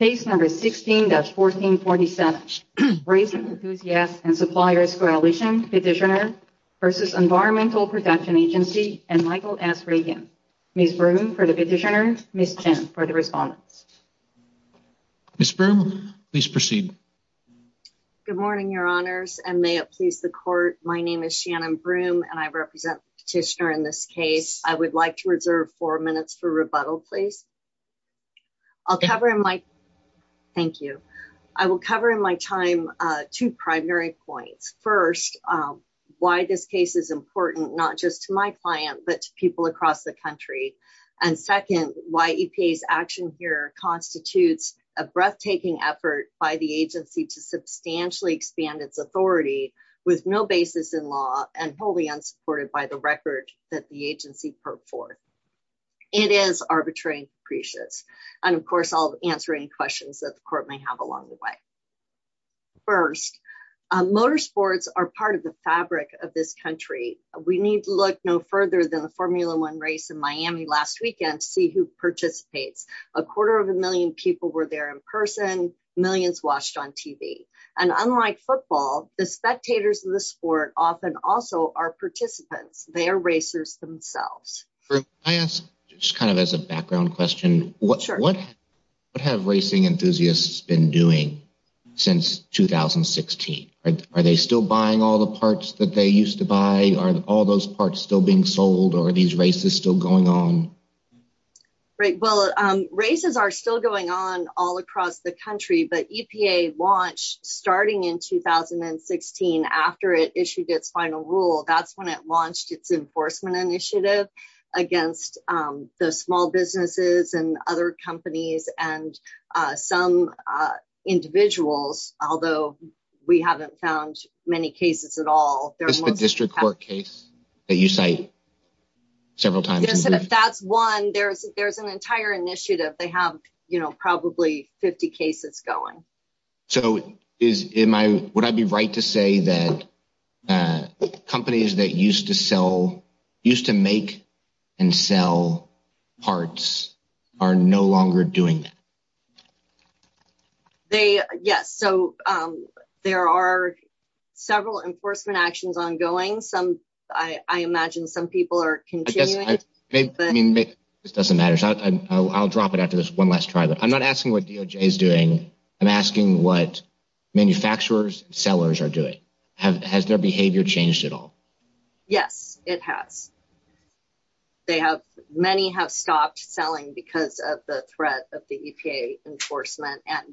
Case number 16-1447. Raising Enthusiasts and Suppliers Coalition petitioner versus Environmental Protection Agency and Michael S. Reagan. Ms. Broome for the petitioner, Ms. Chen for the respondents. Ms. Broome, please proceed. Good morning, your honors, and may it please the court. My name is Shannon Broome, and I represent the petitioner in this case. I would like to reserve four minutes for rebuttal, please. Thank you. I will cover in my time two primary points. First, why this case is important not just to my client, but to people across the country. And second, why EPA's action here constitutes a breathtaking effort by the agency to substantially expand its authority with no basis in law and wholly unsupported by the record that the agency purport. It is arbitrary and capricious. And of course, I'll answer any questions that the court may have along the way. First, motor sports are part of the fabric of this country. We need to look no further than the Formula One race in Miami last weekend to see who participates. A quarter of a million people were there in person, millions watched on TV. And unlike football, the spectators of the sport also are participants. They are racers themselves. Can I ask, just kind of as a background question, what have racing enthusiasts been doing since 2016? Are they still buying all the parts that they used to buy? Are all those parts still being sold or are these races still going on? Right. Well, races are still going on all across the country, but EPA launched starting in 2016 after it issued its final rule. That's when it launched its enforcement initiative against the small businesses and other companies and some individuals, although we haven't found many cases at all. That's the district court case that you cite several times. Yes, and if that's one, there's an entire initiative. They have, you know, probably 50 cases going. So would I be right to say that companies that used to sell, used to make and sell parts are no longer doing that? They, yes. So there are several enforcement actions ongoing. I imagine some people are continuing. This doesn't matter. I'll drop it after this one last try. I'm not asking what is doing. I'm asking what manufacturers and sellers are doing. Has their behavior changed at all? Yes, it has. They have, many have stopped selling because of the threat of the EPA enforcement and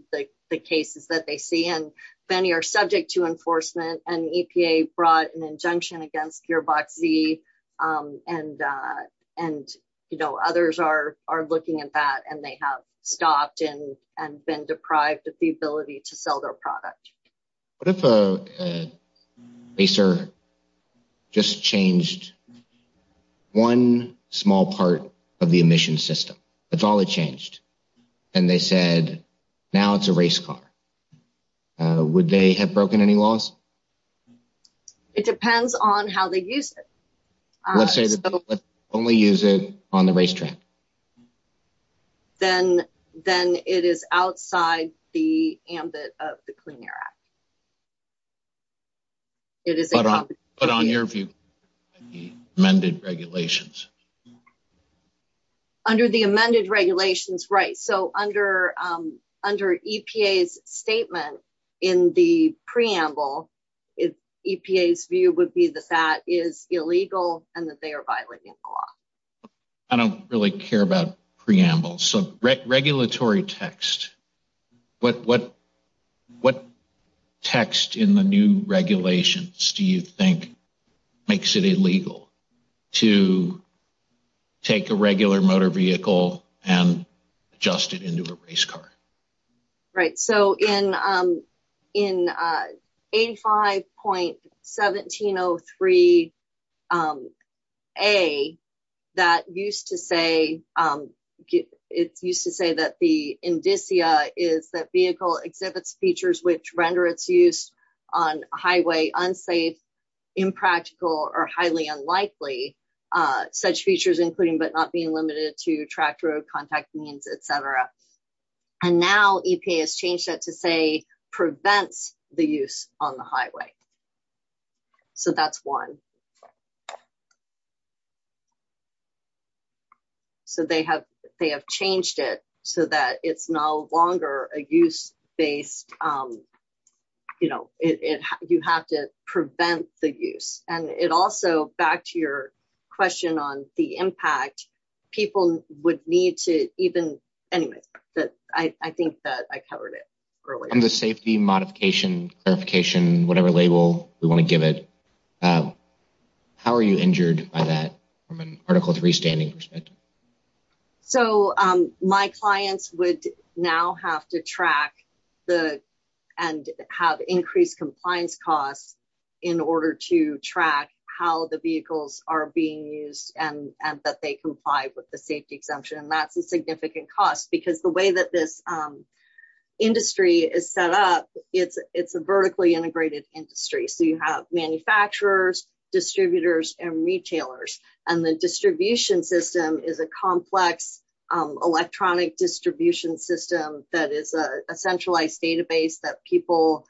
the cases that they see. And many are subject to enforcement and EPA brought an injunction against Gearbox Z. And, you know, others are looking at that and they have stopped and been deprived of the ability to sell their product. What if a racer just changed one small part of the emission system? That's all it changed. And they said, now it's a race car. Would they have broken any laws? It depends on how they use it. Let's say they only use it on the racetrack. Then it is outside the ambit of the Clean Air Act. But on your view, the amended regulations? Under the amended regulations, right. So under EPA's statement in the preamble, EPA's view would be that that is illegal and that they are violating the law. I don't really care about preamble. So regulatory text, what text in the new regulations do you think makes it illegal to take a regular motor vehicle and adjust it into a race car? Right. So in 85.1703A, it's used to say that the indicia is that vehicle exhibits features which render its use on highway unsafe, impractical, or highly unlikely. Such features but not being limited to tracked road contact means, etc. And now EPA has changed that to say prevents the use on the highway. So that's one. So they have changed it so that it's no longer a use-based, you know, you have to prevent the use. And it also, back to your question on the impact, people would need to even, anyway, I think that I covered it earlier. On the safety modification, clarification, whatever label we want to give it, how are you injured by that from an Article 3 standing perspective? So my clients would now have to track and have increased compliance costs in order to track how the vehicles are being used and that they comply with the safety exemption. And that's a significant cost because the way that this industry is set up, it's a vertically integrated industry. So you have manufacturers, distributors, and retailers. And the distribution system is a complex electronic distribution system that is a centralized database that people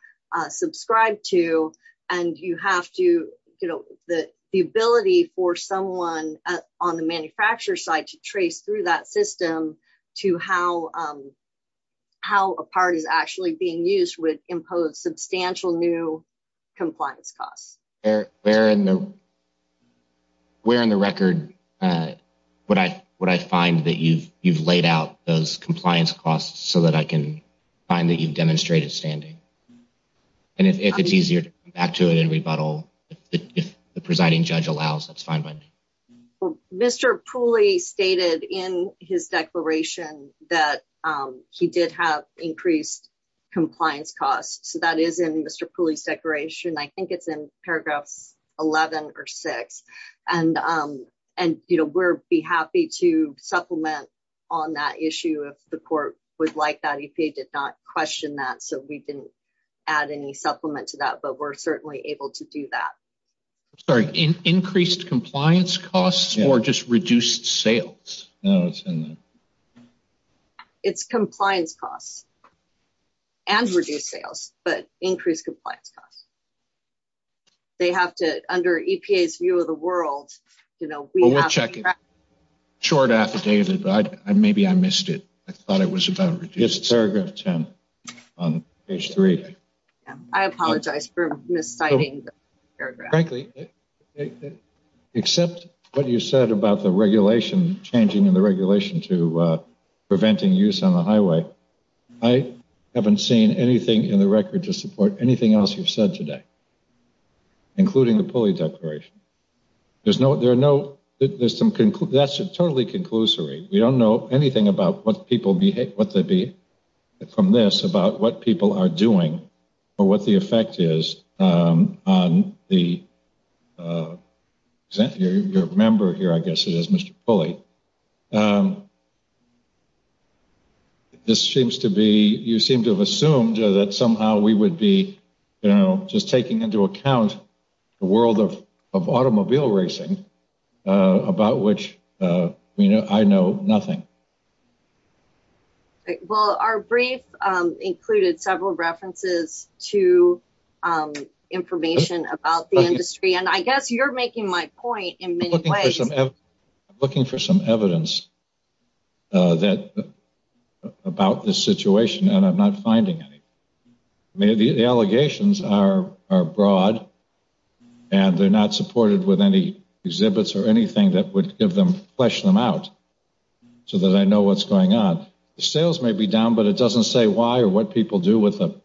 subscribe to. And you have to, you know, the ability for someone on the manufacturer side to trace through that system to how a part is actually being used would impose substantial new compliance costs. Where in the record would I find that you've laid out those compliance costs so that I can find that you've demonstrated standing? And if it's easier to come back to it and rebuttal, if the presiding judge allows, that's fine by me. Mr. Pooley stated in his declaration that he did have increased compliance costs. So that is in Mr. Pooley's declaration. I think it's in paragraphs 11 or 6. And, you know, we'll be happy to supplement on that issue if the court would like that. EPA did not question that, so we didn't add any supplement to that. But we're certainly able to do that. Sorry, increased compliance costs or just reduced sales? No, it's in the... It's compliance costs and reduced sales, but increased compliance costs. They have to, under EPA's view of the world, you know, we have to... Well, we'll check it. But maybe I missed it. I thought it was about reduced... It's paragraph 10 on page 3. I apologize for misciting the paragraph. Frankly, except what you said about the regulation changing and the regulation to preventing use on the highway, I haven't seen anything in the record to support anything else you've said today, including the Pooley declaration. There's no... There are no... There's some... That's totally conclusory. We don't know anything about what people behave... From this about what people are doing or what the effect is on the... Your member here, I guess it is, Mr. Pooley. This seems to be... You seem to have assumed that somehow we would be, you know, just taking into account the world of automobile racing, about which, you know, I know nothing. Well, our brief included several references to information about the industry, and I guess you're making my point in many ways. I'm looking for some evidence that... About this situation, and I'm not finding anything. Maybe the allegations are broad, and they're not supported with any exhibits or anything that would give them... Flesh them out so that I know what's going on. The sales may be down, but it doesn't say why or what people do with them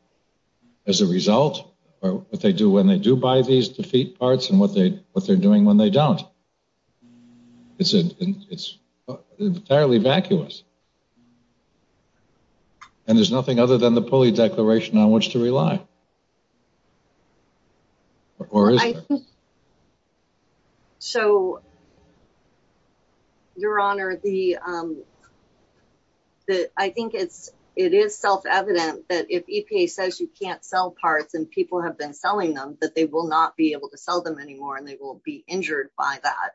as a result, or what they do when they do buy these defeat parts, and what they're doing when they don't. It's entirely vacuous, and there's nothing other than the Pooley Declaration on which to rely. Or is there? So, Your Honor, the... I think it's... It is self-evident that if EPA says you can't sell parts and people have been selling them, that they will not be able to sell them anymore, and they will be injured by that.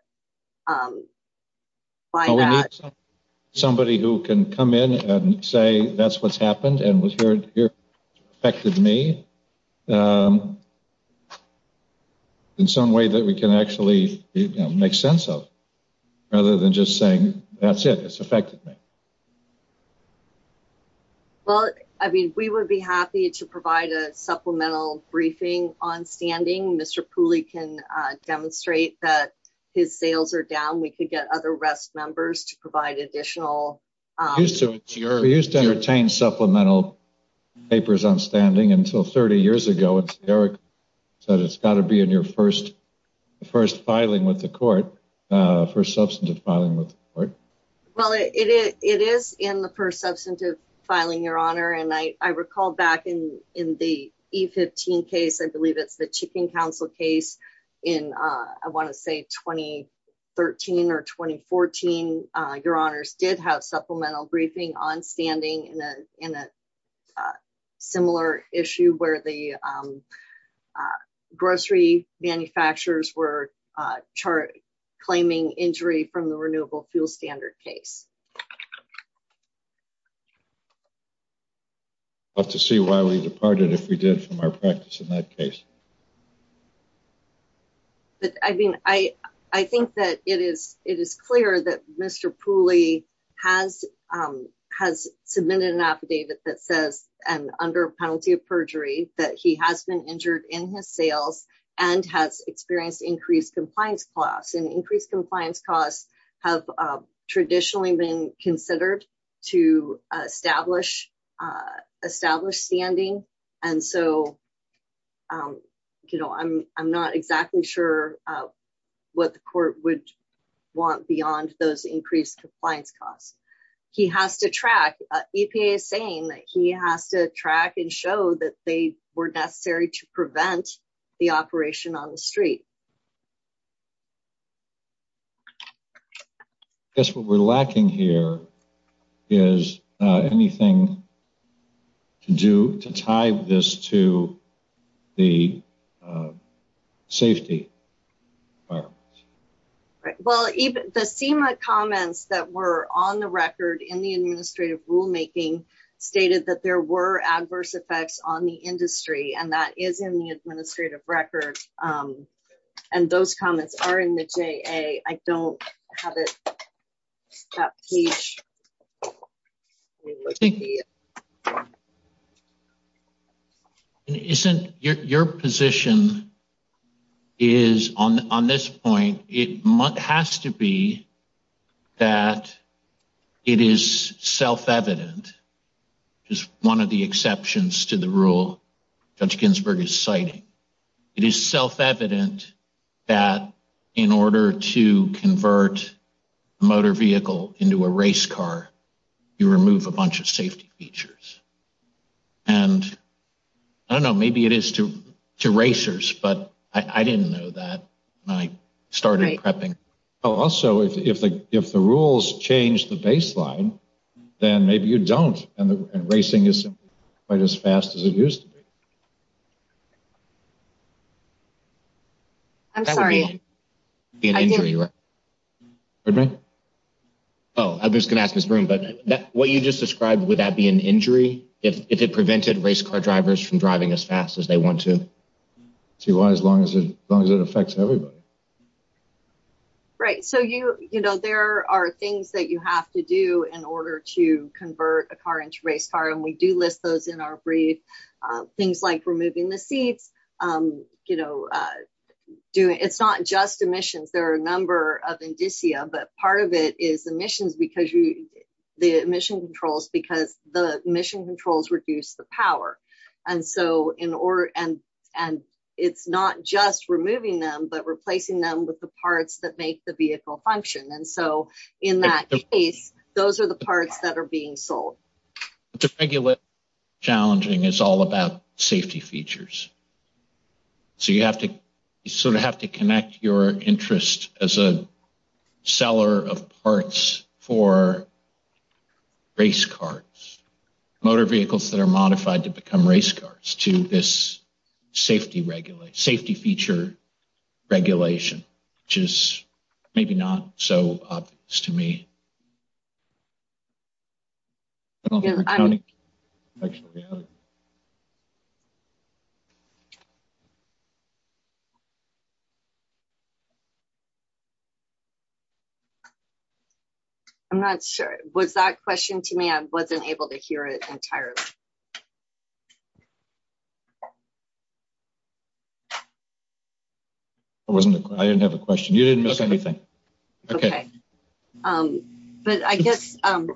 Somebody who can come in and say, that's what's happened, and was heard affected me, in some way that we can actually make sense of, rather than just saying, that's it, it's affected me. Well, I mean, we would be happy to provide a supplemental briefing on standing. Mr. Pooley can demonstrate that his sales are down. We could get other rest members to provide additional... We used to entertain supplemental papers on standing until 30 years ago, and Eric said, it's got to be in your first filing with the court, first substantive filing with the court. Well, it is in the first substantive filing, Your Honor, and I recall back in the E-15 case, I believe it's the Chicken Council case in, I want to say, 2013 or 2014, Your Honors, did have supplemental briefing on standing in a similar issue where the injury from the renewable fuel standard case. I'll have to see why we departed, if we did, from our practice in that case. But, I mean, I think that it is clear that Mr. Pooley has submitted an affidavit that says, and under penalty of perjury, that he has been injured in his sales and has experienced increased compliance costs, and increased compliance costs have traditionally been considered to establish standing, and so I'm not exactly sure what the court would want beyond those increased compliance costs. He has to track, EPA is saying that he has to track. I guess what we're lacking here is anything to do to tie this to the safety. Well, the SEMA comments that were on the record in the administrative rulemaking stated that there were adverse effects on the industry, and that is in the administrative record, and those comments are in the JA. I don't have it on that page. Your position is, on this point, it has to be that it is self-evident, which is one of the exceptions to the rule Judge Ginsburg is citing, it is self-evident that in order to convert a motor vehicle into a race car, you remove a bunch of safety features, and I don't know, maybe it is to racers, but I didn't know that when I started prepping. Also, if the rules change the baseline, then maybe you don't, and racing isn't quite as fast as it used to be. I'm sorry. Oh, I was going to ask Ms. Broome, but what you just described, would that be an injury if it prevented race car drivers from driving as fast as they want to? Why, as long as it affects everybody? Right, so there are things that you have to do in order to convert a car into a race car, and we do list those in our brief. Things like removing the seats, it's not just emissions, there are a number of indicia, but part of it is emissions because the emission controls reduce the power, and so it's not just removing them, but replacing them with the parts that make the vehicle function, and so in that case, those are the parts that are being sold. But the regulation challenging is all about safety features, so you sort of have to connect your interest as a seller of parts for race cars, motor vehicles that are modified to become race cars to this safety feature regulation, which is maybe not so obvious to me. I'm not sure, was that question to me? I wasn't able to hear it entirely. I wasn't, I didn't have a question. You didn't miss anything. Okay, but I guess I'm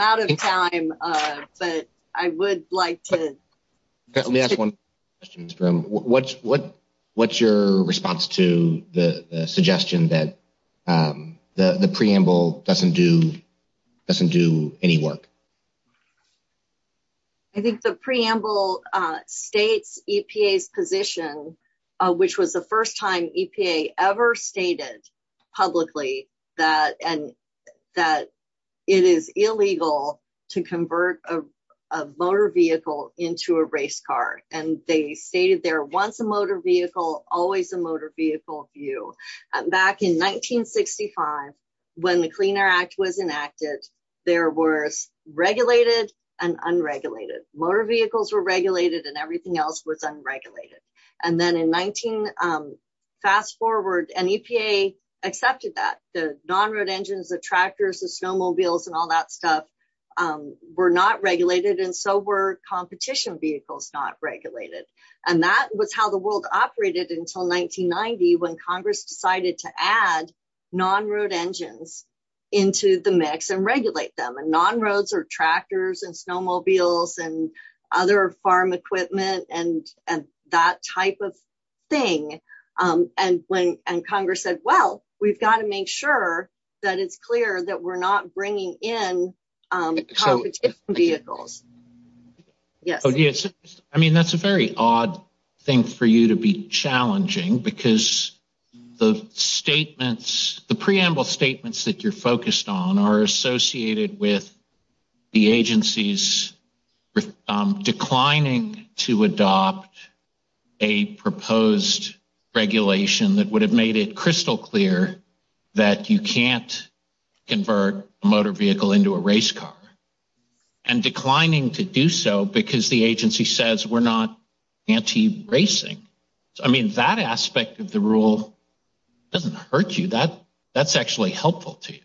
out of time, but I would like to. Let me ask one question. What's your response to the suggestion that the preamble doesn't do any work? I think the preamble states EPA's position, which was the first time EPA ever publicly stated that it is illegal to convert a motor vehicle into a race car, and they stated there, once a motor vehicle, always a motor vehicle view. Back in 1965, when the Cleaner Act was enacted, there was regulated and unregulated. Motor vehicles were regulated and everything else was unregulated. Fast forward, and EPA accepted that. The non-road engines, the tractors, the snowmobiles, and all that stuff were not regulated, and so were competition vehicles not regulated. That was how the world operated until 1990, when Congress decided to add non-road engines into the mix and regulate them. Non-roads are tractors and snowmobiles and other farm equipment and that type of thing. Congress said, well, we've got to make sure that it's clear that we're not bringing in competitive vehicles. I mean, that's a very odd thing for you to be challenging, because the preamble statements that you're focused on are associated with the agency's declining to adopt a proposed regulation that would have made it crystal clear that you can't convert a motor vehicle into a race car, and declining to do so because the agency says we're not anti-racing. I mean, that aspect of the rule doesn't hurt you. That's actually helpful to you.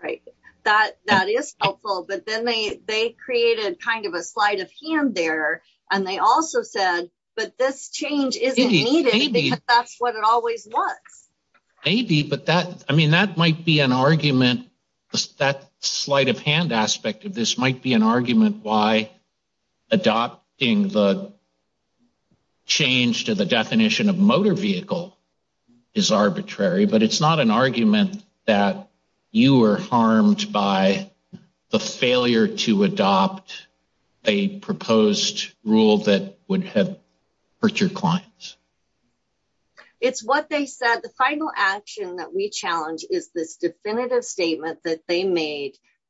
Right, that is helpful, but then they created kind of a sleight of hand there, and they also said, but this change isn't needed, because that's what it always was. Maybe, but that might be an argument. That sleight of hand aspect of this might be an argument why adopting the change to the definition of motor vehicle is arbitrary, but it's not an argument that you were harmed by the failure to adopt a proposed rule that would have hurt your clients. It's what they said. The final action that we have is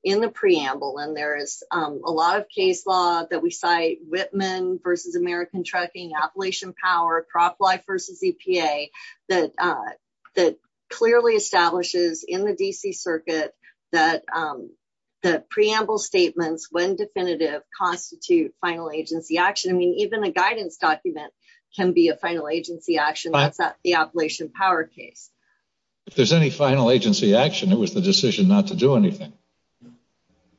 the preamble, and there is a lot of case law that we cite, Whitman versus American Trucking, Appalachian Power, Prop Life versus EPA, that clearly establishes in the D.C. Circuit that the preamble statements, when definitive, constitute final agency action. I mean, even a guidance document can be a final agency action. That's not the Appalachian Power case. If there's any final agency action, it was the decision not to do anything.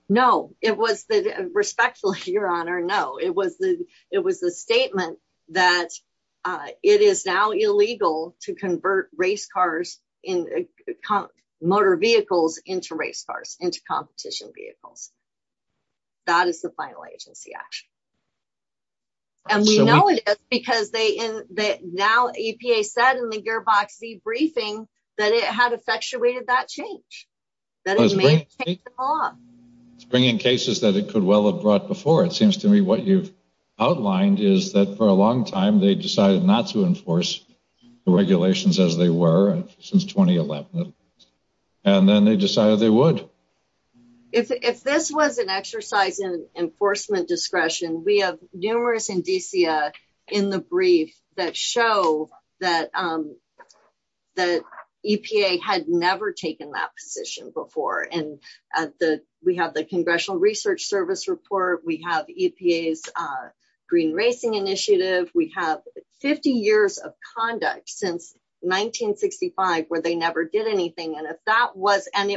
No, it was the, respectfully, your honor, no. It was the statement that it is now illegal to convert race cars, motor vehicles, into race cars, into competition vehicles. That is the final agency action, and we know it is, because now EPA said in the Gearbox Z briefing that it had effectuated that change, that it may have changed the law. It's bringing cases that it could well have brought before. It seems to me what you've outlined is that, for a long time, they decided not to enforce the regulations as they were, since 2011, and then they decided they would. If this was an exercise in enforcement discretion, we have numerous indicia in the brief that show that EPA had never taken that position before. We have the Congressional Research Service report. We have EPA's Green Racing Initiative. We have 50 years of conduct, since 1965, where they never did anything, and it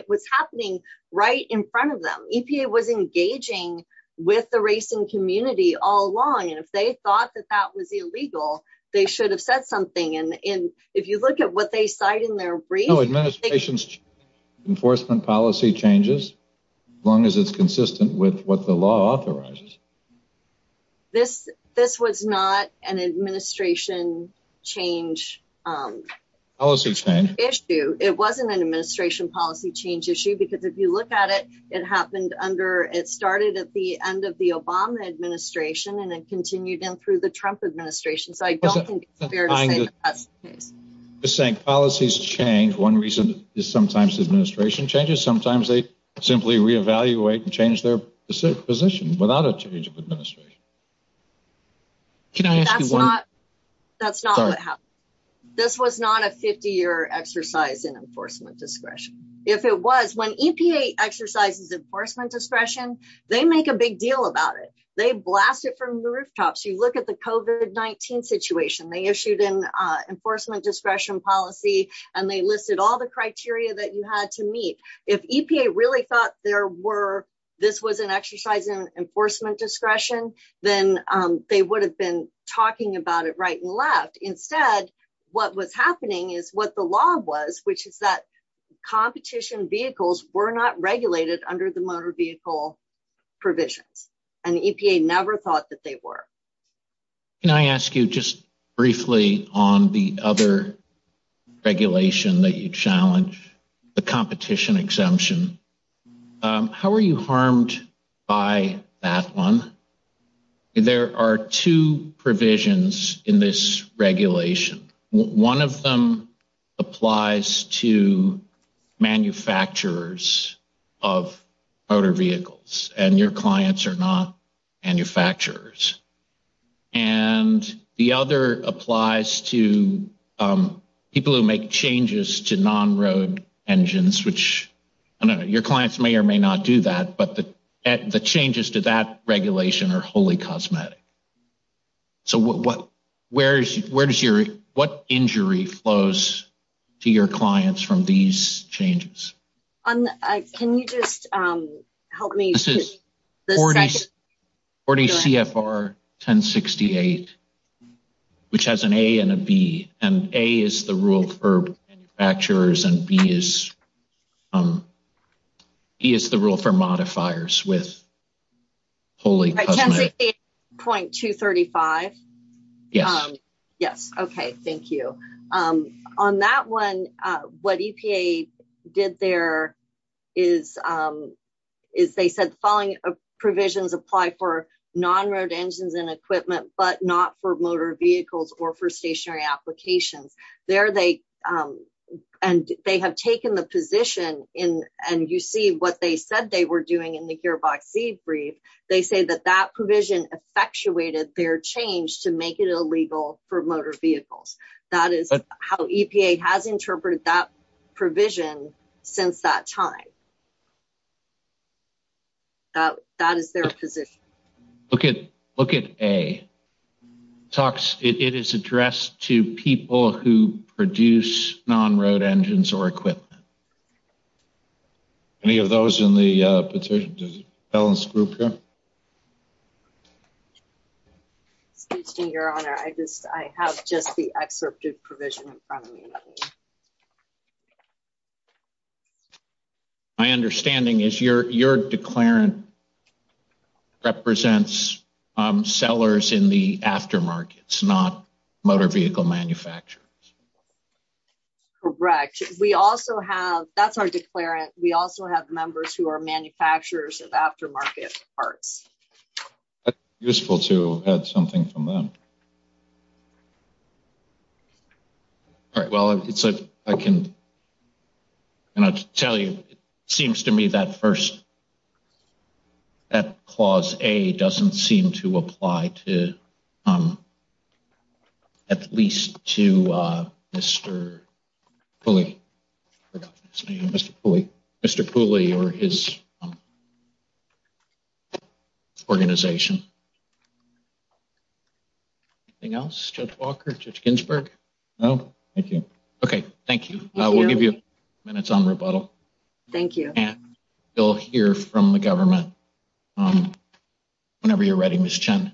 was happening right in front of them. EPA was engaging with the racing community all along, and if they thought that that was illegal, they should have said something. If you look at what they cite in their brief... No, administration's enforcement policy changes, as long as it's consistent with what the law authorizes. This was not an administration change issue. It wasn't an administration policy change issue, because if you look at it, it started at the end of the Obama administration, and it continued in through the Trump administration. I don't think it's fair to say that's the case. I'm just saying, policies change. One reason is sometimes administration changes. Sometimes they simply reevaluate and change their position without a change of administration. Can I ask you one... That's not what happened. This was not a 50-year exercise in enforcement discretion. If it was, when EPA exercises enforcement discretion, they make a big deal about it. They blast it from the rooftops. You look at the COVID-19 situation. They issued an enforcement discretion policy, and they listed all the criteria that you had to meet. If EPA really thought this was an exercise in enforcement discretion, then they would have been talking about it right and left. Instead, what was happening is what the law was, which is competition vehicles were not regulated under the motor vehicle provisions, and the EPA never thought that they were. Can I ask you just briefly on the other regulation that you challenge, the competition exemption, how are you harmed by that one? There are two provisions in this manufacturers of motor vehicles, and your clients are not manufacturers. The other applies to people who make changes to non-road engines, which your clients may or may not do that, but the changes to that regulation are wholly cosmetic. What injury flows to your clients from these changes? Can you just help me? This is 40 CFR 1068, which has an A and a B, and A is the rule for manufacturers, and B is the rule for modifiers with wholly cosmetic. Point 235. Yes. Okay, thank you. On that one, what EPA did there is they said the following provisions apply for non-road engines and equipment, but not for motor vehicles or for stationary applications. They have taken the position, and you see what they said they were effectuated their change to make it illegal for motor vehicles. That is how EPA has interpreted that provision since that time. That is their position. Okay, look at A. It is addressed to people who produce non-road engines or equipment. Any of those in the petition? Excuse me, Your Honor. I have just the excerpted provision in front of me. My understanding is your declarant represents sellers in the aftermarkets, not motor vehicle manufacturers. Correct. That is our declarant. We also have members who are manufacturers of aftermarket parts. That is useful to add something from them. All right. Well, I can tell you, it seems to me that clause A does not seem to apply to at least to Mr. Pooley or his organization. Anything else? Judge Walker? Judge Ginsburg? No, thank you. Okay, thank you. We will give you a few minutes on rebuttal. Thank you. You will hear from the government on whenever you are ready, Ms. Chen.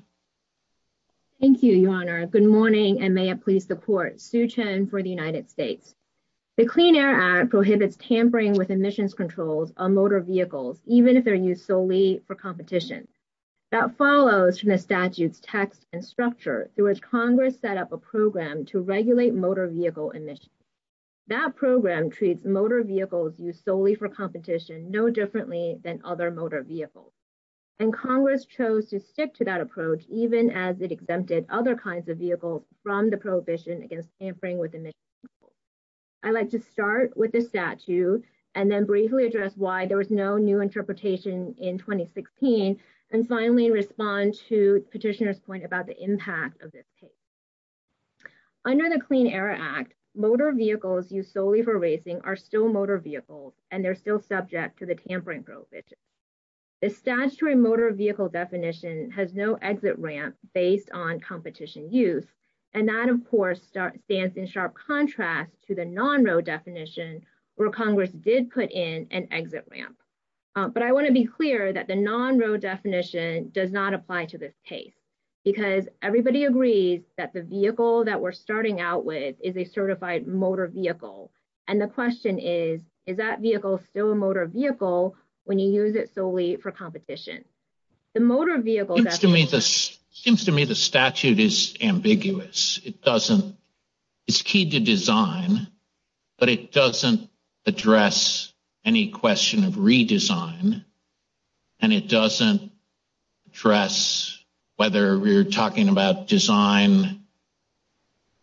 Thank you, Your Honor. Good morning, and may it please the court. Sue Chen for the United States. The Clean Air Act prohibits tampering with emissions controls on motor vehicles, even if they are used solely for competition. That follows from the statute's text and structure, through which Congress set up a program to regulate motor vehicle emissions. That program treats motor vehicles used solely for competition no differently than other motor vehicles, and Congress chose to stick to that approach, even as it exempted other kinds of vehicles from the prohibition against tampering with emissions. I'd like to start with the statute and then briefly address why there was no new interpretation in 2016, and finally respond to Petitioner's point about the impact of this case. Under the Clean Air Act, motor vehicles used solely for racing are still motor vehicles, and they're still subject to the tampering prohibition. The statutory motor vehicle definition has no exit ramp based on competition use, and that, of course, stands in sharp contrast to the non-road definition, where Congress did put in an exit ramp. But I want to be clear that the non-road definition does not apply to this case, because everybody agrees that the vehicle that we're starting out with is a certified motor vehicle, and the question is, is that vehicle still a motor vehicle when you use it solely for competition? The motor vehicle definition... Seems to me the statute is ambiguous. It's key to design, but it doesn't address any question of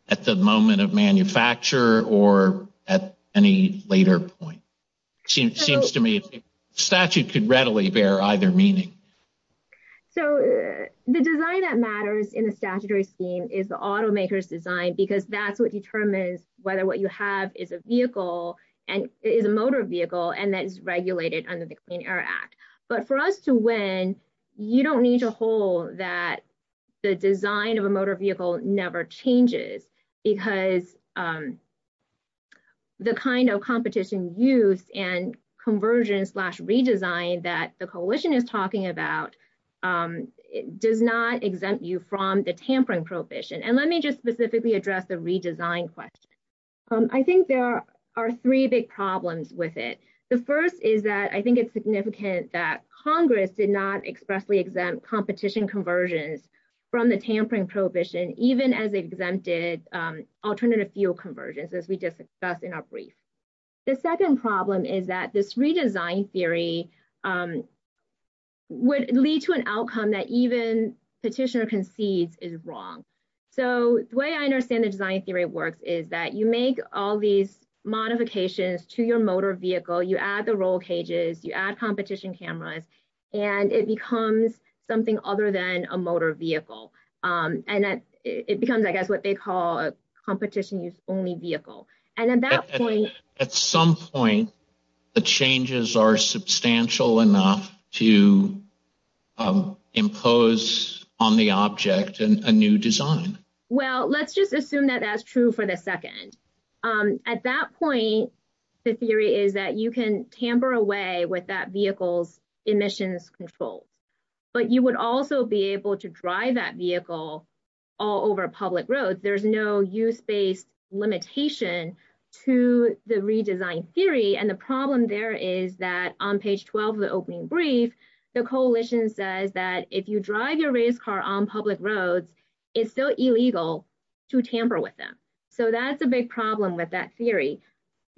at the moment of manufacture or at any later point. Seems to me the statute could readily bear either meaning. So the design that matters in the statutory scheme is the automaker's design, because that's what determines whether what you have is a vehicle and is a motor vehicle, and that is regulated under the Clean Air Act. But for us to win, you don't need to hold that the design of a motor vehicle never changes, because the kind of competition use and conversion slash redesign that the coalition is talking about does not exempt you from the tampering prohibition. And let me just specifically address the redesign question. I think there are three big problems with it. The first is that I think it's significant that Congress did not expressly exempt competition conversions from the tampering prohibition, even as they exempted alternative fuel conversions, as we discussed in our brief. The second problem is that this redesign theory would lead to an outcome that even petitioner concedes is wrong. So the way I understand the design theory works is that you make all these modifications to your motor vehicle, you add the roll cages, you add competition cameras, and it becomes something other than a motor vehicle. And that it becomes, I guess, what they call a competition use only vehicle. And at that point, at some point, the changes are substantial enough to impose on the object and a new design. Well, let's just assume that that's true for the second. At that point, the theory is that you can tamper away with that vehicle's emissions controls, but you would also be able to drive that vehicle all over public roads. There's no use-based limitation to the redesign theory. And the problem there is that on page 12 of the opening brief, the coalition says that if you drive your race car on public roads, it's still illegal to tamper with them. So that's a big problem with that theory.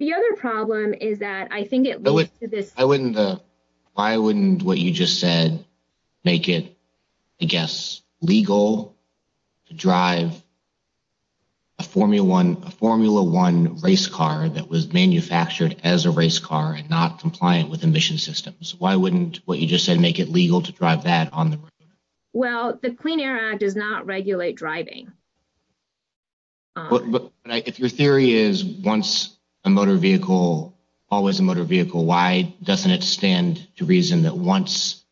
The other problem is that I think it leads to this- Why wouldn't what you just said make it, I guess, legal to drive a Formula One race car that was manufactured as a race car and not compliant with emission systems? Why wouldn't what you just said make it legal to drive that on the road? Well, the Clean Air Act does not regulate driving. But if your theory is once a motor vehicle, always a motor vehicle, why doesn't it stand to reason that once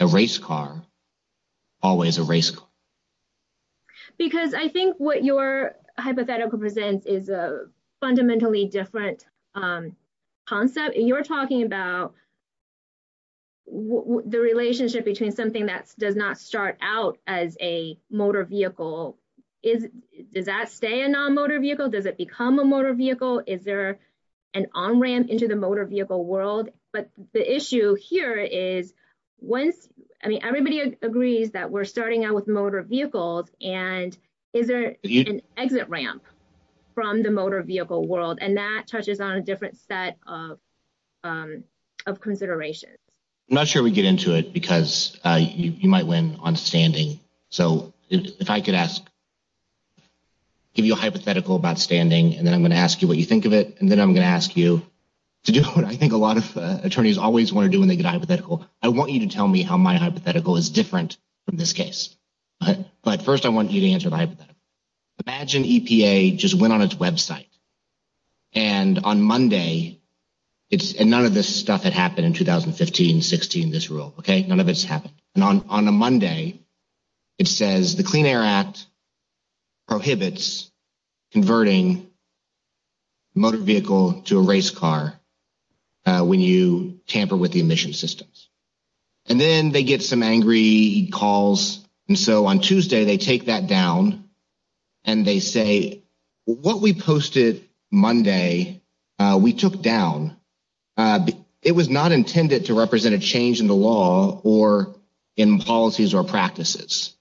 a race car, always a race car? Because I think what your hypothetical presents is a fundamentally different concept. You're talking about the relationship between something that does not start out as a motor vehicle. Does that stay a non-motor vehicle? Does it become a motor vehicle? Is there an on-ramp into the motor vehicle world? But the issue here is once- I mean, everybody agrees that we're starting out with motor vehicles. And is there an exit ramp from the motor vehicle world? And that touches on a different set of considerations. I'm not sure we get into it, because you might win on standing. So if I could give you a hypothetical about standing, and then I'm going to ask you what you think of it. And then I'm going to ask you to do what I think a lot of attorneys always want to do when they get a hypothetical. I want you to tell me how my hypothetical is different from this case. But first, I want you to answer the hypothetical. Imagine EPA just went on its website. And on Monday, it's- and none of this stuff had happened in 2015-16, this rule, okay? None of it's happened. And on a Monday, it says the Clean Air Act prohibits converting motor vehicle to a race car when you tamper with the emission systems. And then they get some angry calls. And so on Tuesday, they take that down. And they say, what we posted Monday, we took down. It was not intended to represent a change in the law or in policies or practices.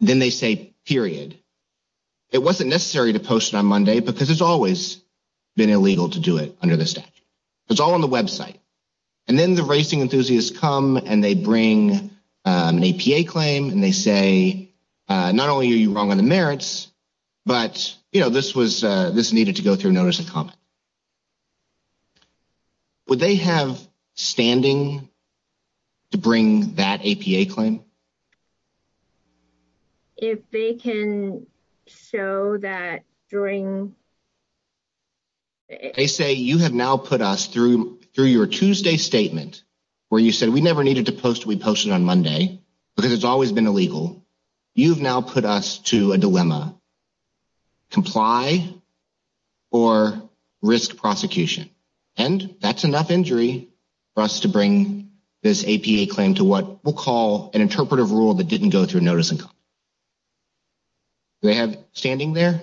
Then they say, period. It wasn't necessary to post it on Monday, because it's always been illegal to do it under the statute. It's all on the website. And then the racing enthusiasts come and they bring an APA claim. And they say, not only are you wrong on the merits, but, you know, this was- this needed to go through notice and comment. Would they have standing to bring that APA claim? If they can show that during- They say, you have now put us through your Tuesday statement, where you said we never needed to post what we posted on Monday, because it's always been illegal. You've now put us to a dilemma. Comply or risk prosecution. And that's enough injury for us to bring this APA claim to what we'll call an interpretive rule that didn't go through notice and comment. Do they have standing there?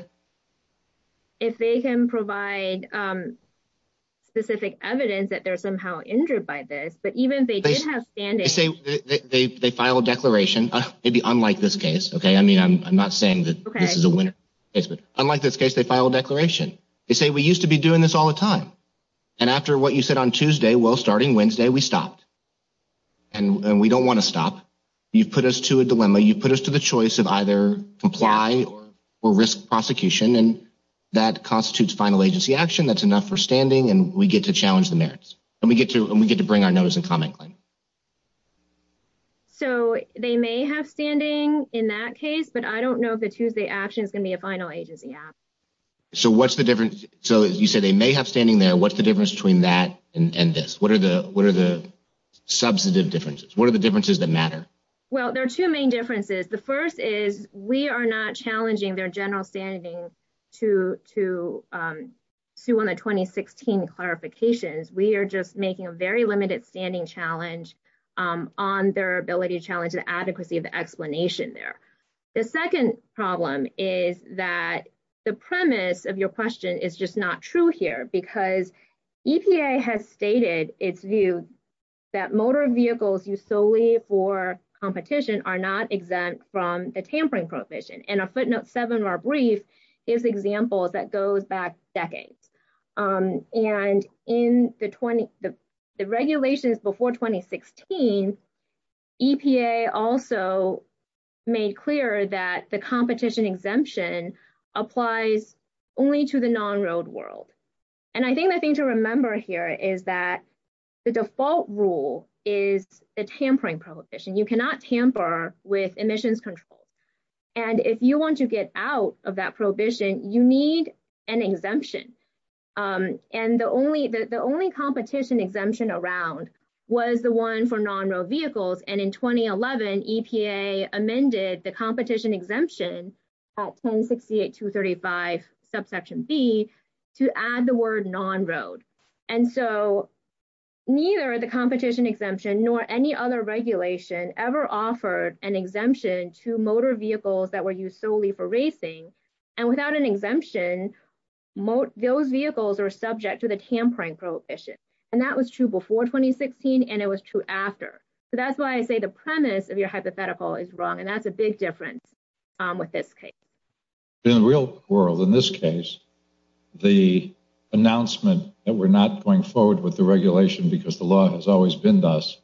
If they can provide specific evidence that they're somehow injured by this, but even if they did have standing- They say they file a declaration, maybe unlike this case, okay? I mean, I'm not saying that this is a winner case, but unlike this case, they file a declaration. They say, we used to be doing this all the time. And after what you said on Tuesday, well, starting Wednesday, we stopped. And we don't want to stop. You've put us to a dilemma. You've put us to the choice of either comply or risk prosecution. And that constitutes final agency action. That's enough for standing. And we get to challenge the merits. And we get to bring our notice and comment claim. So they may have standing in that case, but I don't know if the Tuesday action is going to be a final agency action. So what's the difference? So you said they may have standing there. What's the difference between that and this? What are the substantive differences? What are the differences that matter? Well, there are two main differences. The first is we are not challenging their general standing to sue on the 2016 clarifications. We are just making a very limited standing challenge on their ability to challenge the adequacy of the explanation there. The second problem is that the premise of your question is just not true here because EPA has competition are not exempt from the tampering prohibition. And a footnote seven of our brief is examples that goes back decades. And in the regulations before 2016, EPA also made clear that the competition exemption applies only to the non-road world. And I think the thing to remember here is that the default rule is the tampering prohibition. You cannot tamper with emissions control. And if you want to get out of that prohibition, you need an exemption. And the only competition exemption around was the one for non-road vehicles. And in 2011, EPA amended the competition exemption at 1068-235 subsection B to add the word non-road. And so neither the competition exemption nor any other regulation ever offered an exemption to motor vehicles that were used solely for racing. And without an exemption, those vehicles are subject to the tampering prohibition. And that was true before 2016 and it was true after. So that's why I say the premise of your hypothetical is wrong. And that's a big difference with this case. In the real world, in this case, the announcement that we're not going forward with the regulation because the law has always been thus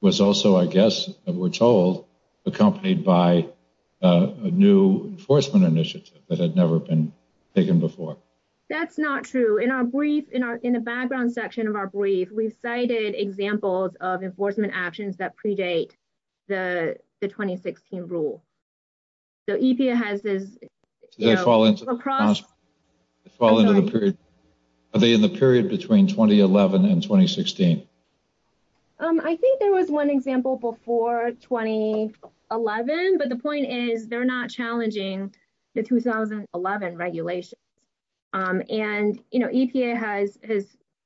was also, I guess, we're told accompanied by a new enforcement initiative that had never been taken before. That's not true. In our brief, in the background section of our brief, we've cited examples of enforcement actions that predate the 2016 rule. So EPA has this. Are they in the period between 2011 and 2016? I think there was one example before 2011, but the point is they're not challenging the 2011 regulations. And EPA has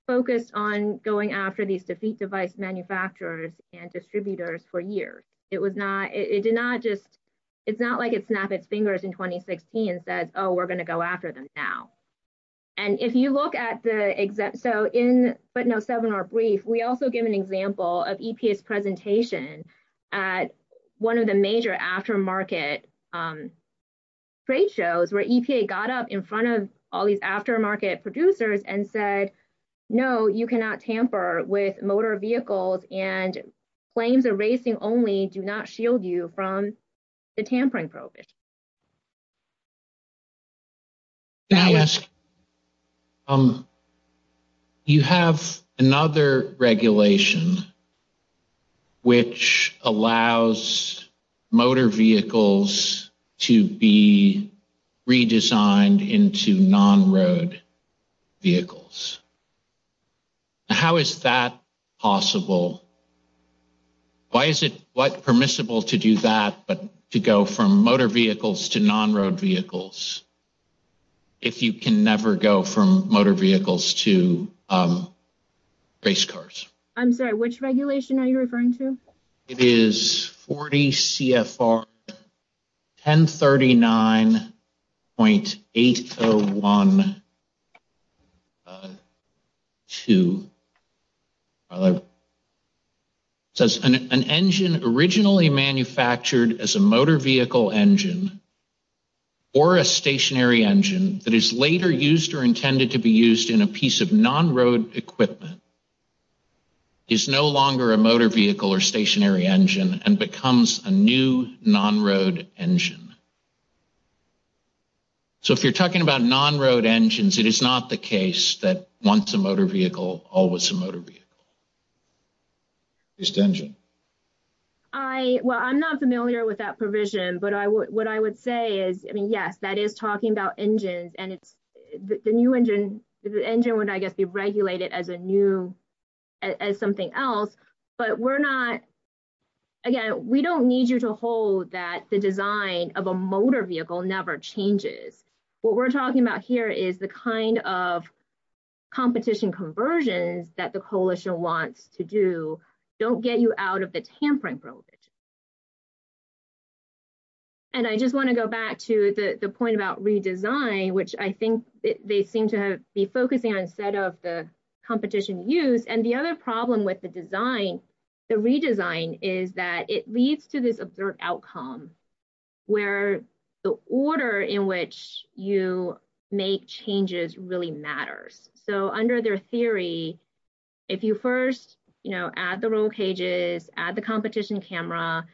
focused on going after these defeat device manufacturers and distributors for years. It was not, it did not just, it's not like it snapped its fingers in 2016 and said, oh, we're going to go after them now. And if you look at the exact, so in, but no seminar brief, we also give an example of EPA's presentation at one of the major aftermarket trade shows where EPA got up in front of all with motor vehicles and planes are racing only do not shield you from the tampering prohibition. You have another regulation which allows motor vehicles to be redesigned into non-road vehicles. How is that possible? Why is it permissible to do that, but to go from motor vehicles to non-road vehicles, if you can never go from motor vehicles to race cars? I'm sorry, which regulation are you referring to? It is 40 CFR 1039.8012, says an engine originally manufactured as a motor vehicle engine or a stationary engine that is later used or intended to be used in a piece of non-road equipment is no longer a motor vehicle or stationary engine and becomes a new non-road engine. So if you're talking about non-road engines, it is not the case that once a motor vehicle, always a motor vehicle. I, well, I'm not familiar with that provision, but I would, what I would say is, I mean, yes, that is talking about engines and it's the new engine, the engine would, I guess, be regulated as a new, as something else, but we're not, again, we don't need you to hold that the design of a motor vehicle never changes. What we're talking about here is the kind of competition conversions that the coalition wants to do don't get you out of the tampering prohibition. And I just want to go back to the point about redesign, which I think they seem to be focusing on instead of the competition use. And the other problem with the design, the redesign is that it leads to this absurd outcome where the order in which you make changes really matters. So under their theory, if you first, you know, add the roll cages, add the competition camera,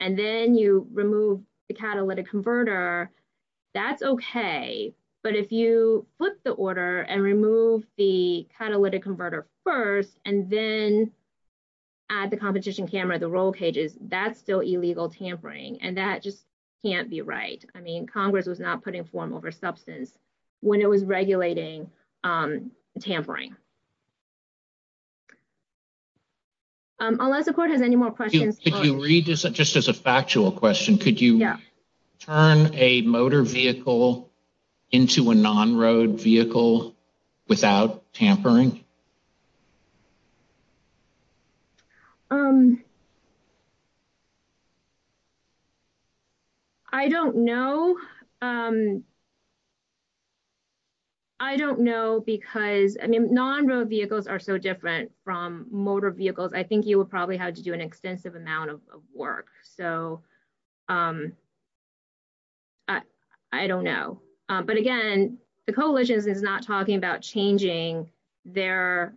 and then you remove the catalytic converter, that's okay. But if you flip the order and remove the catalytic converter first, and then add the competition camera, the roll cages, that's still illegal tampering. And that just can't be right. I mean, Congress was not putting form over substance when it was regulating tampering. Unless the court has any more questions. Just as a factual question, could you turn a motor vehicle into a non-road vehicle without tampering? I don't know. I don't know because, I mean, non-road vehicles are so different from work. So I don't know. But again, the coalition is not talking about changing their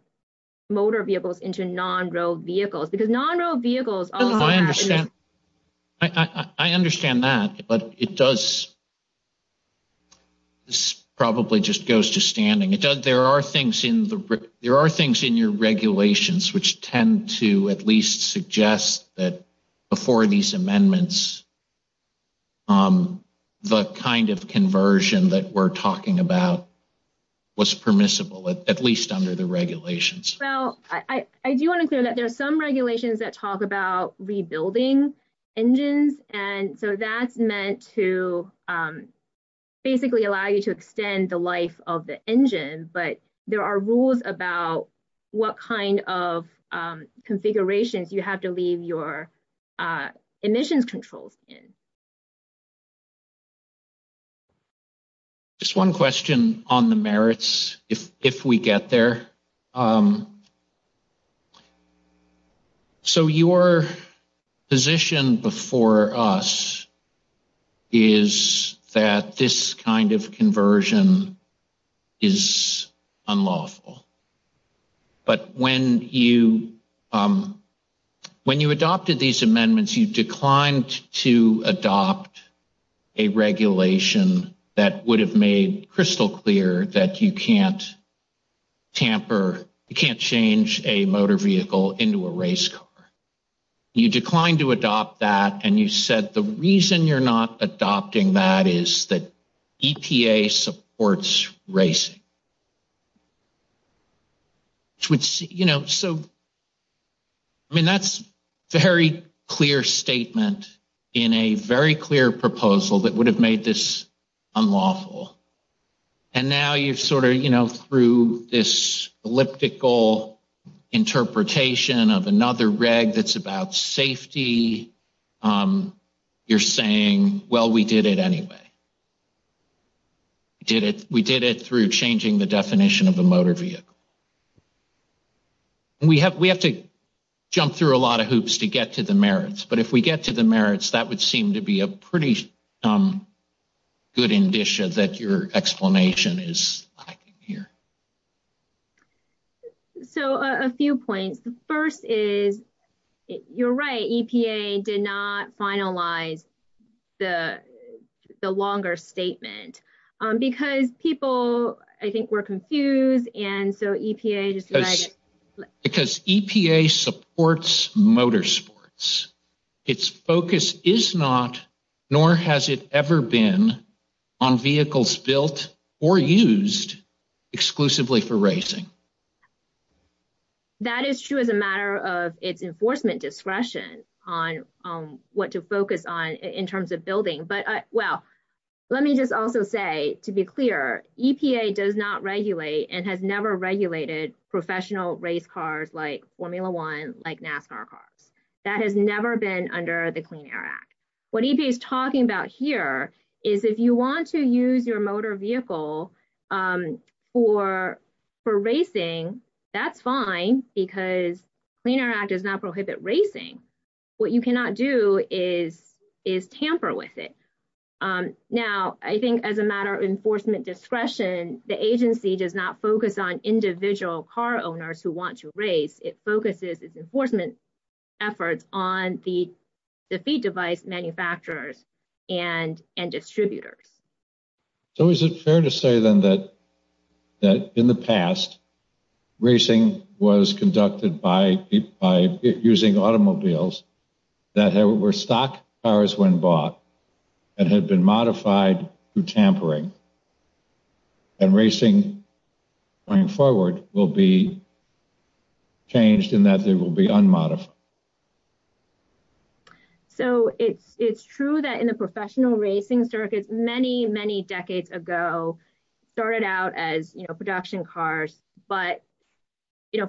motor vehicles into non-road vehicles. Because non-road vehicles... I understand that, but it does, this probably just goes to standing. There are things in your regulations which tend to at least suggest that before these amendments, the kind of conversion that we're talking about was permissible, at least under the regulations. Well, I do want to clear that there are some regulations that talk about rebuilding engines. And so that's meant to basically allow you to leave your emissions controls in. Just one question on the merits, if we get there. So your position before us is that this kind of conversion is unlawful. But when you adopted these amendments, you declined to adopt a regulation that would have made crystal clear that you can't tamper, you can't change a motor vehicle into a race car. You declined to adopt that. And you said the reason you're not adopting that is that EPA supports racing. So, I mean, that's a very clear statement in a very clear proposal that would have made this unlawful. And now you've sort of, you know, through this elliptical interpretation of another reg that's about safety, you're saying, well, we did it anyway. We did it through changing the definition of a motor vehicle. And we have to jump through a lot of hoops to get to the merits. But if we get to the merits, that would seem to be a pretty good indicia that your explanation is lacking here. So, a few points. The first is, you're right, EPA did not finalize the longer statement. Because people, I think, were confused. And so EPA just- Because EPA supports motorsports. Its focus is not, nor has it ever been, on vehicles built or used exclusively for racing. That is true as a matter of its enforcement discretion on what to focus on in terms of building. But, well, let me just also say, to be clear, EPA does not regulate and has never regulated professional race cars like Formula One, like NASCAR cars. That has never been under the law. So, if you want to use your motor vehicle for racing, that's fine. Because Clean Air Act does not prohibit racing. What you cannot do is tamper with it. Now, I think as a matter of enforcement discretion, the agency does not focus on individual car owners who want to race. It enforcement efforts on the feed device manufacturers and distributors. So, is it fair to say, then, that in the past, racing was conducted by using automobiles that were stock cars when bought and had been modified through tampering, and racing going forward will be changed in that they will be unmodified? So, it's true that in the professional racing circuits, many, many decades ago, started out as production cars. But,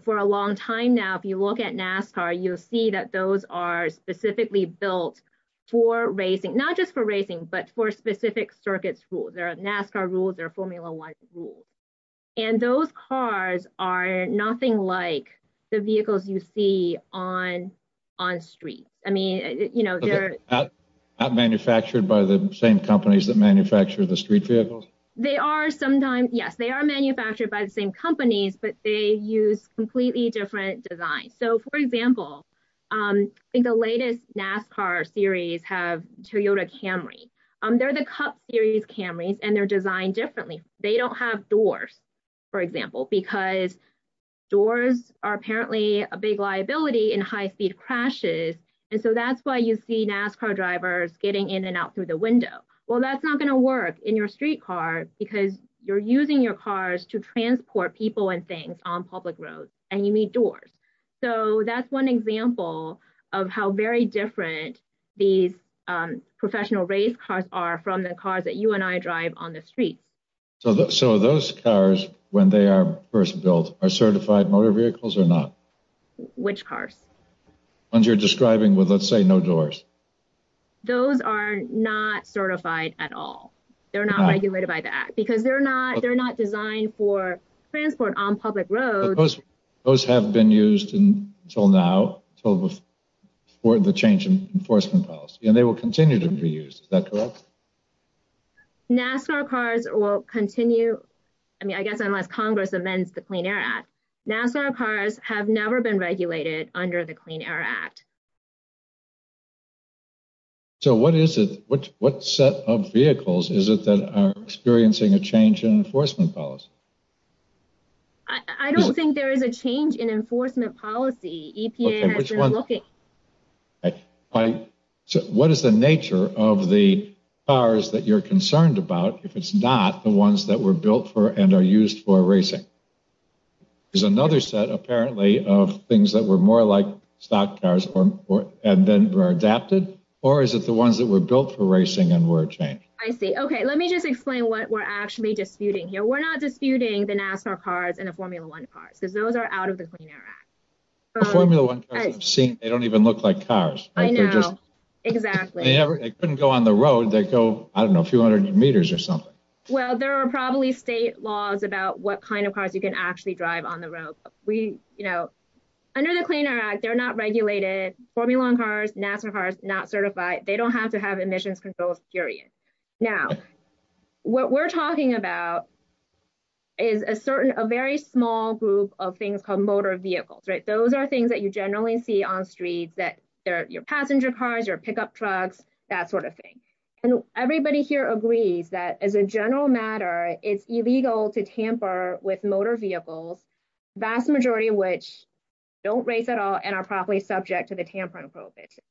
for a long time now, if you look at NASCAR, you'll see that those are specifically built for racing, not just for racing, but for specific circuits rules. There and those cars are nothing like the vehicles you see on on streets. I mean, you know, not manufactured by the same companies that manufacture the street vehicles. They are sometimes, yes, they are manufactured by the same companies, but they use completely different designs. So, for example, I think the latest NASCAR series have Toyota Camry. They're the Cup Series Camrys, and they're designed differently. They don't have doors, for example, because doors are apparently a big liability in high-speed crashes, and so that's why you see NASCAR drivers getting in and out through the window. Well, that's not going to work in your street car, because you're using your cars to transport people and things on public roads, and you need doors. So, that's one example of how very different these professional race cars are from the cars that you and I drive on the streets. So, those cars, when they are first built, are certified motor vehicles or not? Which cars? The ones you're describing with, let's say, no doors. Those are not certified at all. They're not regulated by the Act, because they're not designed for transport on public roads. Those have been used until now, until before the change in enforcement policy, and they will continue to be used. Is that correct? NASCAR cars will continue, I mean, I guess, unless Congress amends the Clean Air Act. NASCAR cars have never been regulated under the Clean Air Act. So, what is it? What set of vehicles is it that are experiencing a change in enforcement policy? I don't think there is a change in enforcement policy. EPA has been looking. So, what is the nature of the cars that you're concerned about, if it's not the ones that were built for and are used for racing? There's another set, apparently, of things that were more like stock cars and then were adapted, or is it the ones that were built for racing and were changed? I see. Okay, let me just explain what we're actually disputing here. We're not disputing the NASCAR cars and the Formula One cars, because those are out of the Clean Air Act. Formula One cars, I've seen, they don't even look like cars. Exactly. They couldn't go on the road. They go, I don't know, a few hundred meters or something. Well, there are probably state laws about what kind of cars you can actually drive on the road. Under the Clean Air Act, they're not regulated. Formula One cars, NASCAR cars, not certified. They don't have to have emissions control, period. Now, what we're talking about is a certain, a very small group of things called motor vehicles, right? Those are things that you generally see on streets, that they're your passenger cars, your pickup trucks, that sort of thing. And everybody here agrees that, as a general matter, it's illegal to tamper with motor vehicles, vast majority of which don't race at all and are probably subject to the tampering prohibition.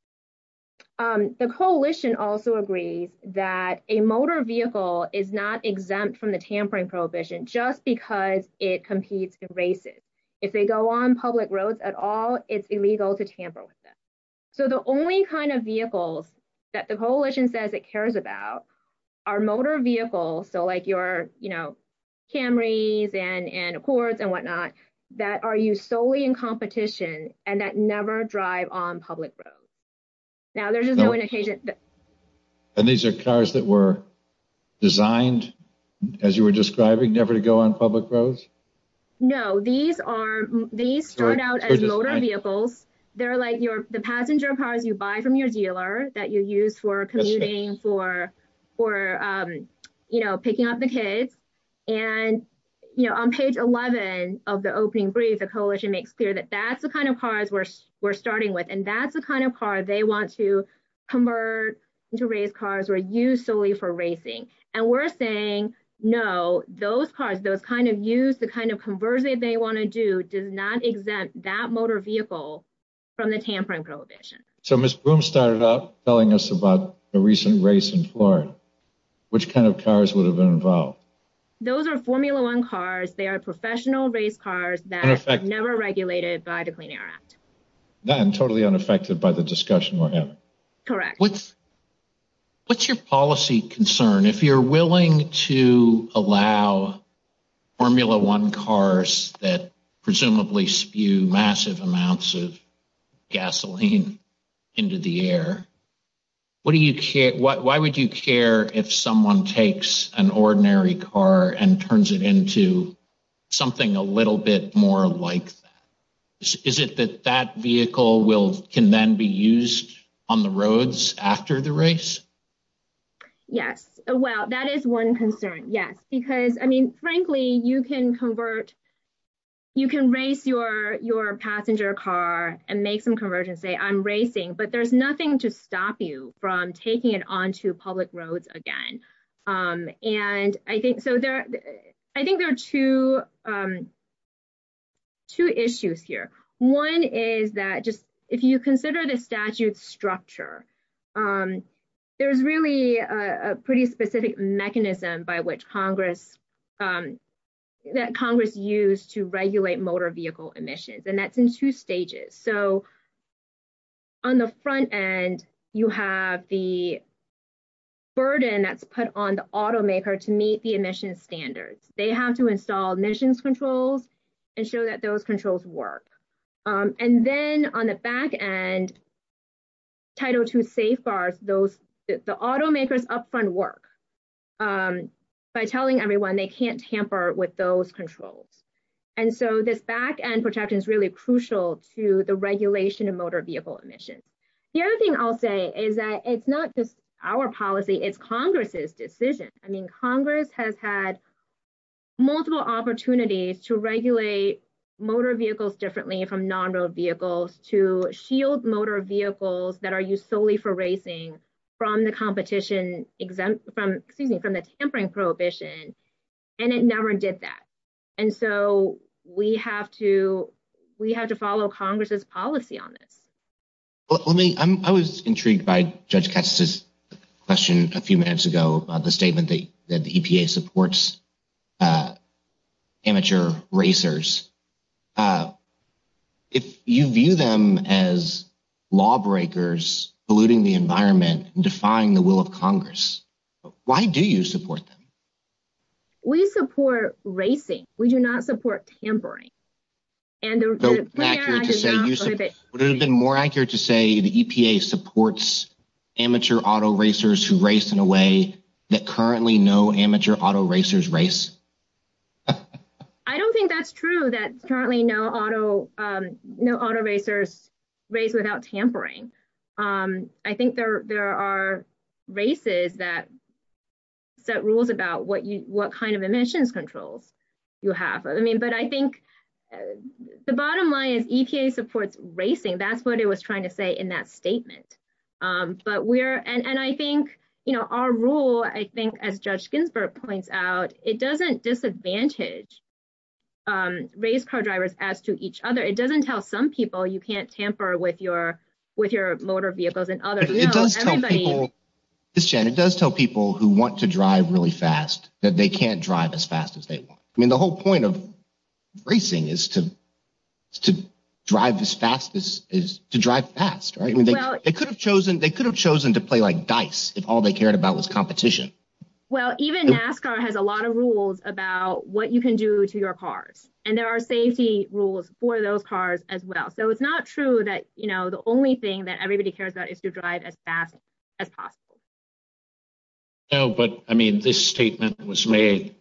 The coalition also agrees that a motor vehicle is not exempt from the tampering prohibition just because it competes in races. If they go on public roads at all, it's illegal to tamper with them. So the only kind of vehicles that the coalition says it cares about are motor vehicles, so like your Camrys and Accords and whatnot, that are used solely in competition and that never drive on public roads. Now, there's just no indication. And these are cars that were designed, as you were describing, never to go on public roads? No, these start out as motor vehicles. They're like the passenger cars you buy from your dealer that you use for commuting, for picking up the kids. And on page 11 of the opening brief, the coalition makes clear that that's the kind of cars we're starting with, and that's the kind of car they want to convert into race cars or use solely for racing. And we're saying, no, those cars, those kind of use, the kind of conversion they want to do, does not exempt that motor vehicle from the tampering prohibition. So Ms. Broom started off telling us about a recent race in Florida. Which kind of cars would have been involved? Those are Formula One cars. They are professional race cars that are never regulated by the Clean Air Act. And totally unaffected by the discussion we're having? Correct. What's your policy concern? If you're willing to allow Formula One cars that presumably spew massive amounts of gasoline into the air, why would you care if someone takes an ordinary car and turns it into something a little bit more like that? Is it that that vehicle can then be used on the roads after the race? Yes. Well, that is one concern, yes. Because, I mean, frankly, you can convert, you can race your passenger car and make some conversion, say I'm racing, but there's nothing to stop you from taking it onto public roads again. And I think, so there, I think there are two issues here. One is that just, if you consider the statute's structure, there's really a pretty specific mechanism by which Congress, that Congress used to regulate you have the burden that's put on the automaker to meet the emission standards. They have to install emissions controls and show that those controls work. And then on the back end, Title II safeguards, those, the automakers upfront work by telling everyone they can't tamper with those controls. And so this back end protection is really crucial to the regulation of it's not just our policy, it's Congress's decision. I mean, Congress has had multiple opportunities to regulate motor vehicles differently from non-road vehicles to shield motor vehicles that are used solely for racing from the competition exempt from, excuse me, from the tampering prohibition. And it never did that. And so we have to, we have to follow Congress's policy on this. Let me, I'm, I was intrigued by Judge Katz's question a few minutes ago, the statement that the EPA supports amateur racers. If you view them as lawbreakers, polluting the environment and defying the will of Congress, why do you support them? We support racing. We do not support tampering. Would it have been more accurate to say the EPA supports amateur auto racers who race in a way that currently no amateur auto racers race? I don't think that's true that currently no auto, no auto racers race without tampering. Um, I think there, there are races that set rules about what you, what kind of emissions controls you have. I mean, but I think the bottom line is EPA supports racing. That's what it was trying to say in that statement. Um, but we're, and, and I think, you know, our rule, I think as Judge Ginsburg points out, it doesn't disadvantage, um, race car drivers as to each other. It doesn't tell some people you can't tamper with your, with your motor vehicles and others. It does tell people who want to drive really fast that they can't drive as fast as they want. I mean, the whole point of racing is to, is to drive as fast as is to drive fast, right? I mean, they could have chosen, they could have chosen to play like dice if all they cared about was competition. Well, even NASCAR has a lot of rules about what you can do to your cars. And there are safety rules for those cars as well. So it's not true that, you know, the only thing that everybody cares about is to drive as fast as possible. No, but I mean, this statement was made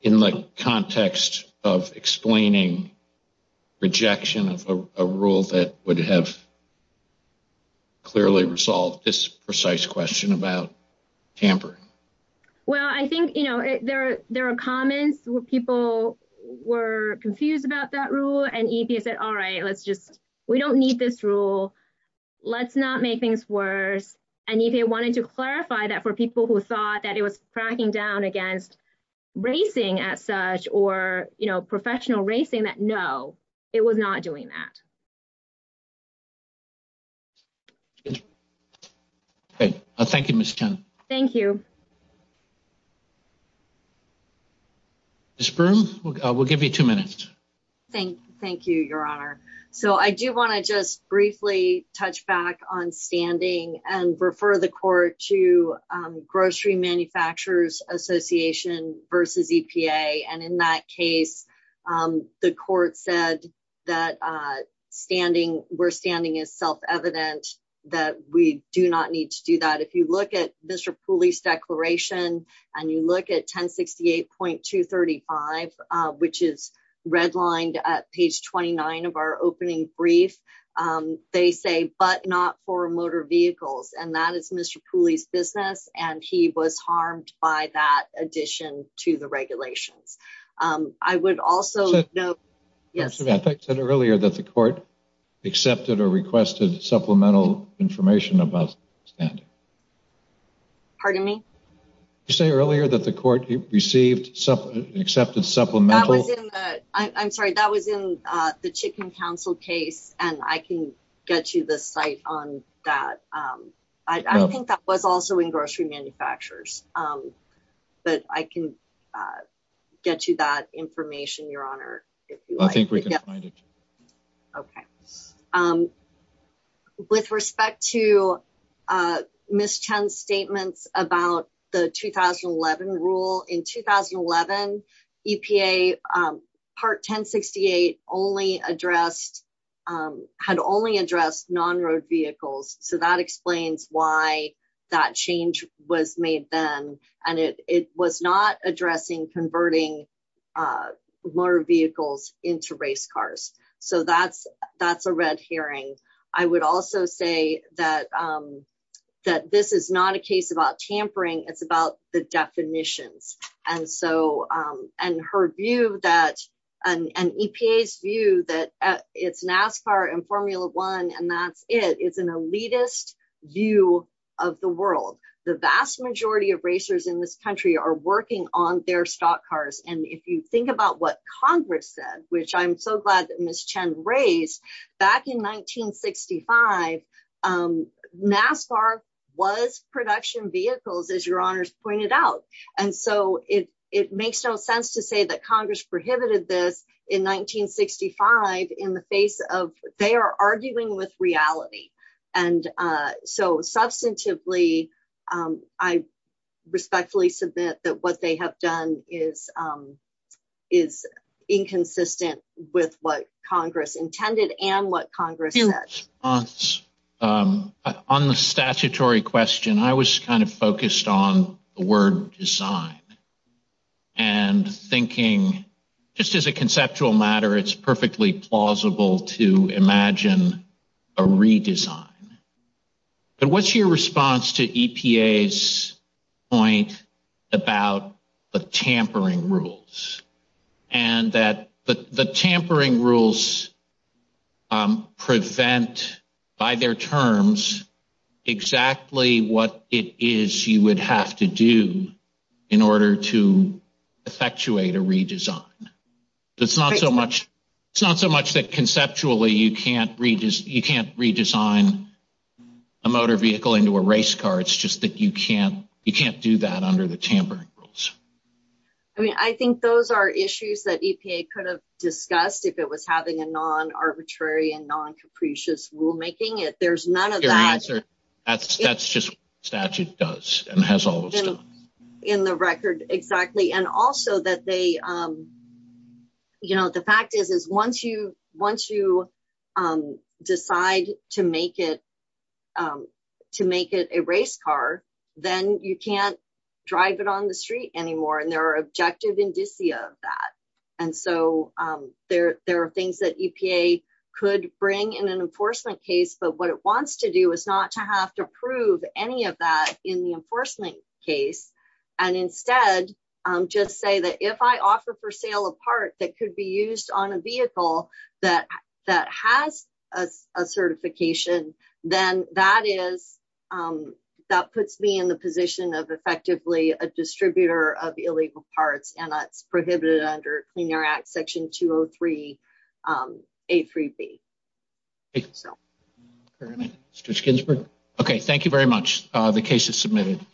in the context of explaining rejection of a rule that would have clearly resolved this precise question about tampering. Well, I think, you know, there are, there are comments where people were confused about that rule and EPA said, all right, let's just, we don't need this rule. Let's not make things worse. And EPA wanted to clarify that for people who thought that it was cracking down against racing as such, or, you know, professional racing that no, it was not doing that. Okay. Thank you, Ms. Chen. Thank you. Ms. Broom, we'll give you two minutes. Thank you, Your Honor. So I do want to just briefly touch back on standing and refer the court to Grocery Manufacturers Association versus EPA. And in that case, the court said that standing, we're standing as self-evident that we do not need to do that. If you look at Mr. Pooley's declaration and you look at 1068.235, which is redlined at page 29 of our opening brief, they say, but not for motor vehicles. And that is Mr. Pooley's business. And he was harmed by that addition to the regulations. I would also know, yes. I said earlier that the court accepted or requested supplemental information about standing. Pardon me? You say earlier that the court received accepted supplemental. I'm sorry, that was in the chicken council case. And I can get you the site on that. I think that was also in grocery manufacturers, but I can get you that information, Your Honor. I think we can find it. Okay. With respect to Ms. Chen's statements about the 2011 rule, in 2011, EPA part 1068 only addressed, had only addressed non-road vehicles. So that explains why that change was made then. And it was not addressing converting motor vehicles into race cars. So that's a red herring. I would also say that this is not a case about tampering. It's about the definitions. And so, and her view that an EPA's view that it's NASCAR and Formula One, and that's it. It's an elitist view of the world. The vast majority of racers in this country are working on their stock cars. And if you think about what Congress said, which I'm so glad that Ms. Chen raised, back in 1965, NASCAR was production vehicles, as Your Honor's pointed out. And so, it makes no sense to say that Congress prohibited this in 1965 in the face of they are arguing with reality. And so, substantively, I respectfully submit that what they have done is inconsistent with what Congress intended and what Congress said. On the statutory question, I was kind of focused on the word design and thinking, just as a conceptual matter, it's perfectly plausible to imagine a redesign. But what's your response to EPA's point about the tampering rules? And that the tampering rules prevent, by their terms, exactly what it is you would have to do in order to effectuate a redesign. It's not so much that conceptually you can't redesign a motor vehicle into a race car, it's just that you can't do that under the tampering rules. I mean, I think those are issues that EPA could have discussed if it was having a non-arbitrary and non-capricious rulemaking. There's none of that. That's just what the statute does and has always done. In the record, exactly. And also, the fact is, once you decide to make it a race car, then you can't drive it on the street anymore. And there are objective indicia of that. And so, there are things that EPA could bring in an enforcement case, but what it wants to do is not to have to prove any of that in the enforcement case. And instead, just say that if I offer for sale a part that could be used on a vehicle that has a certification, then that is, that puts me in the position of effectively a distributor of illegal parts and that's it. Thank you very much. The case is submitted.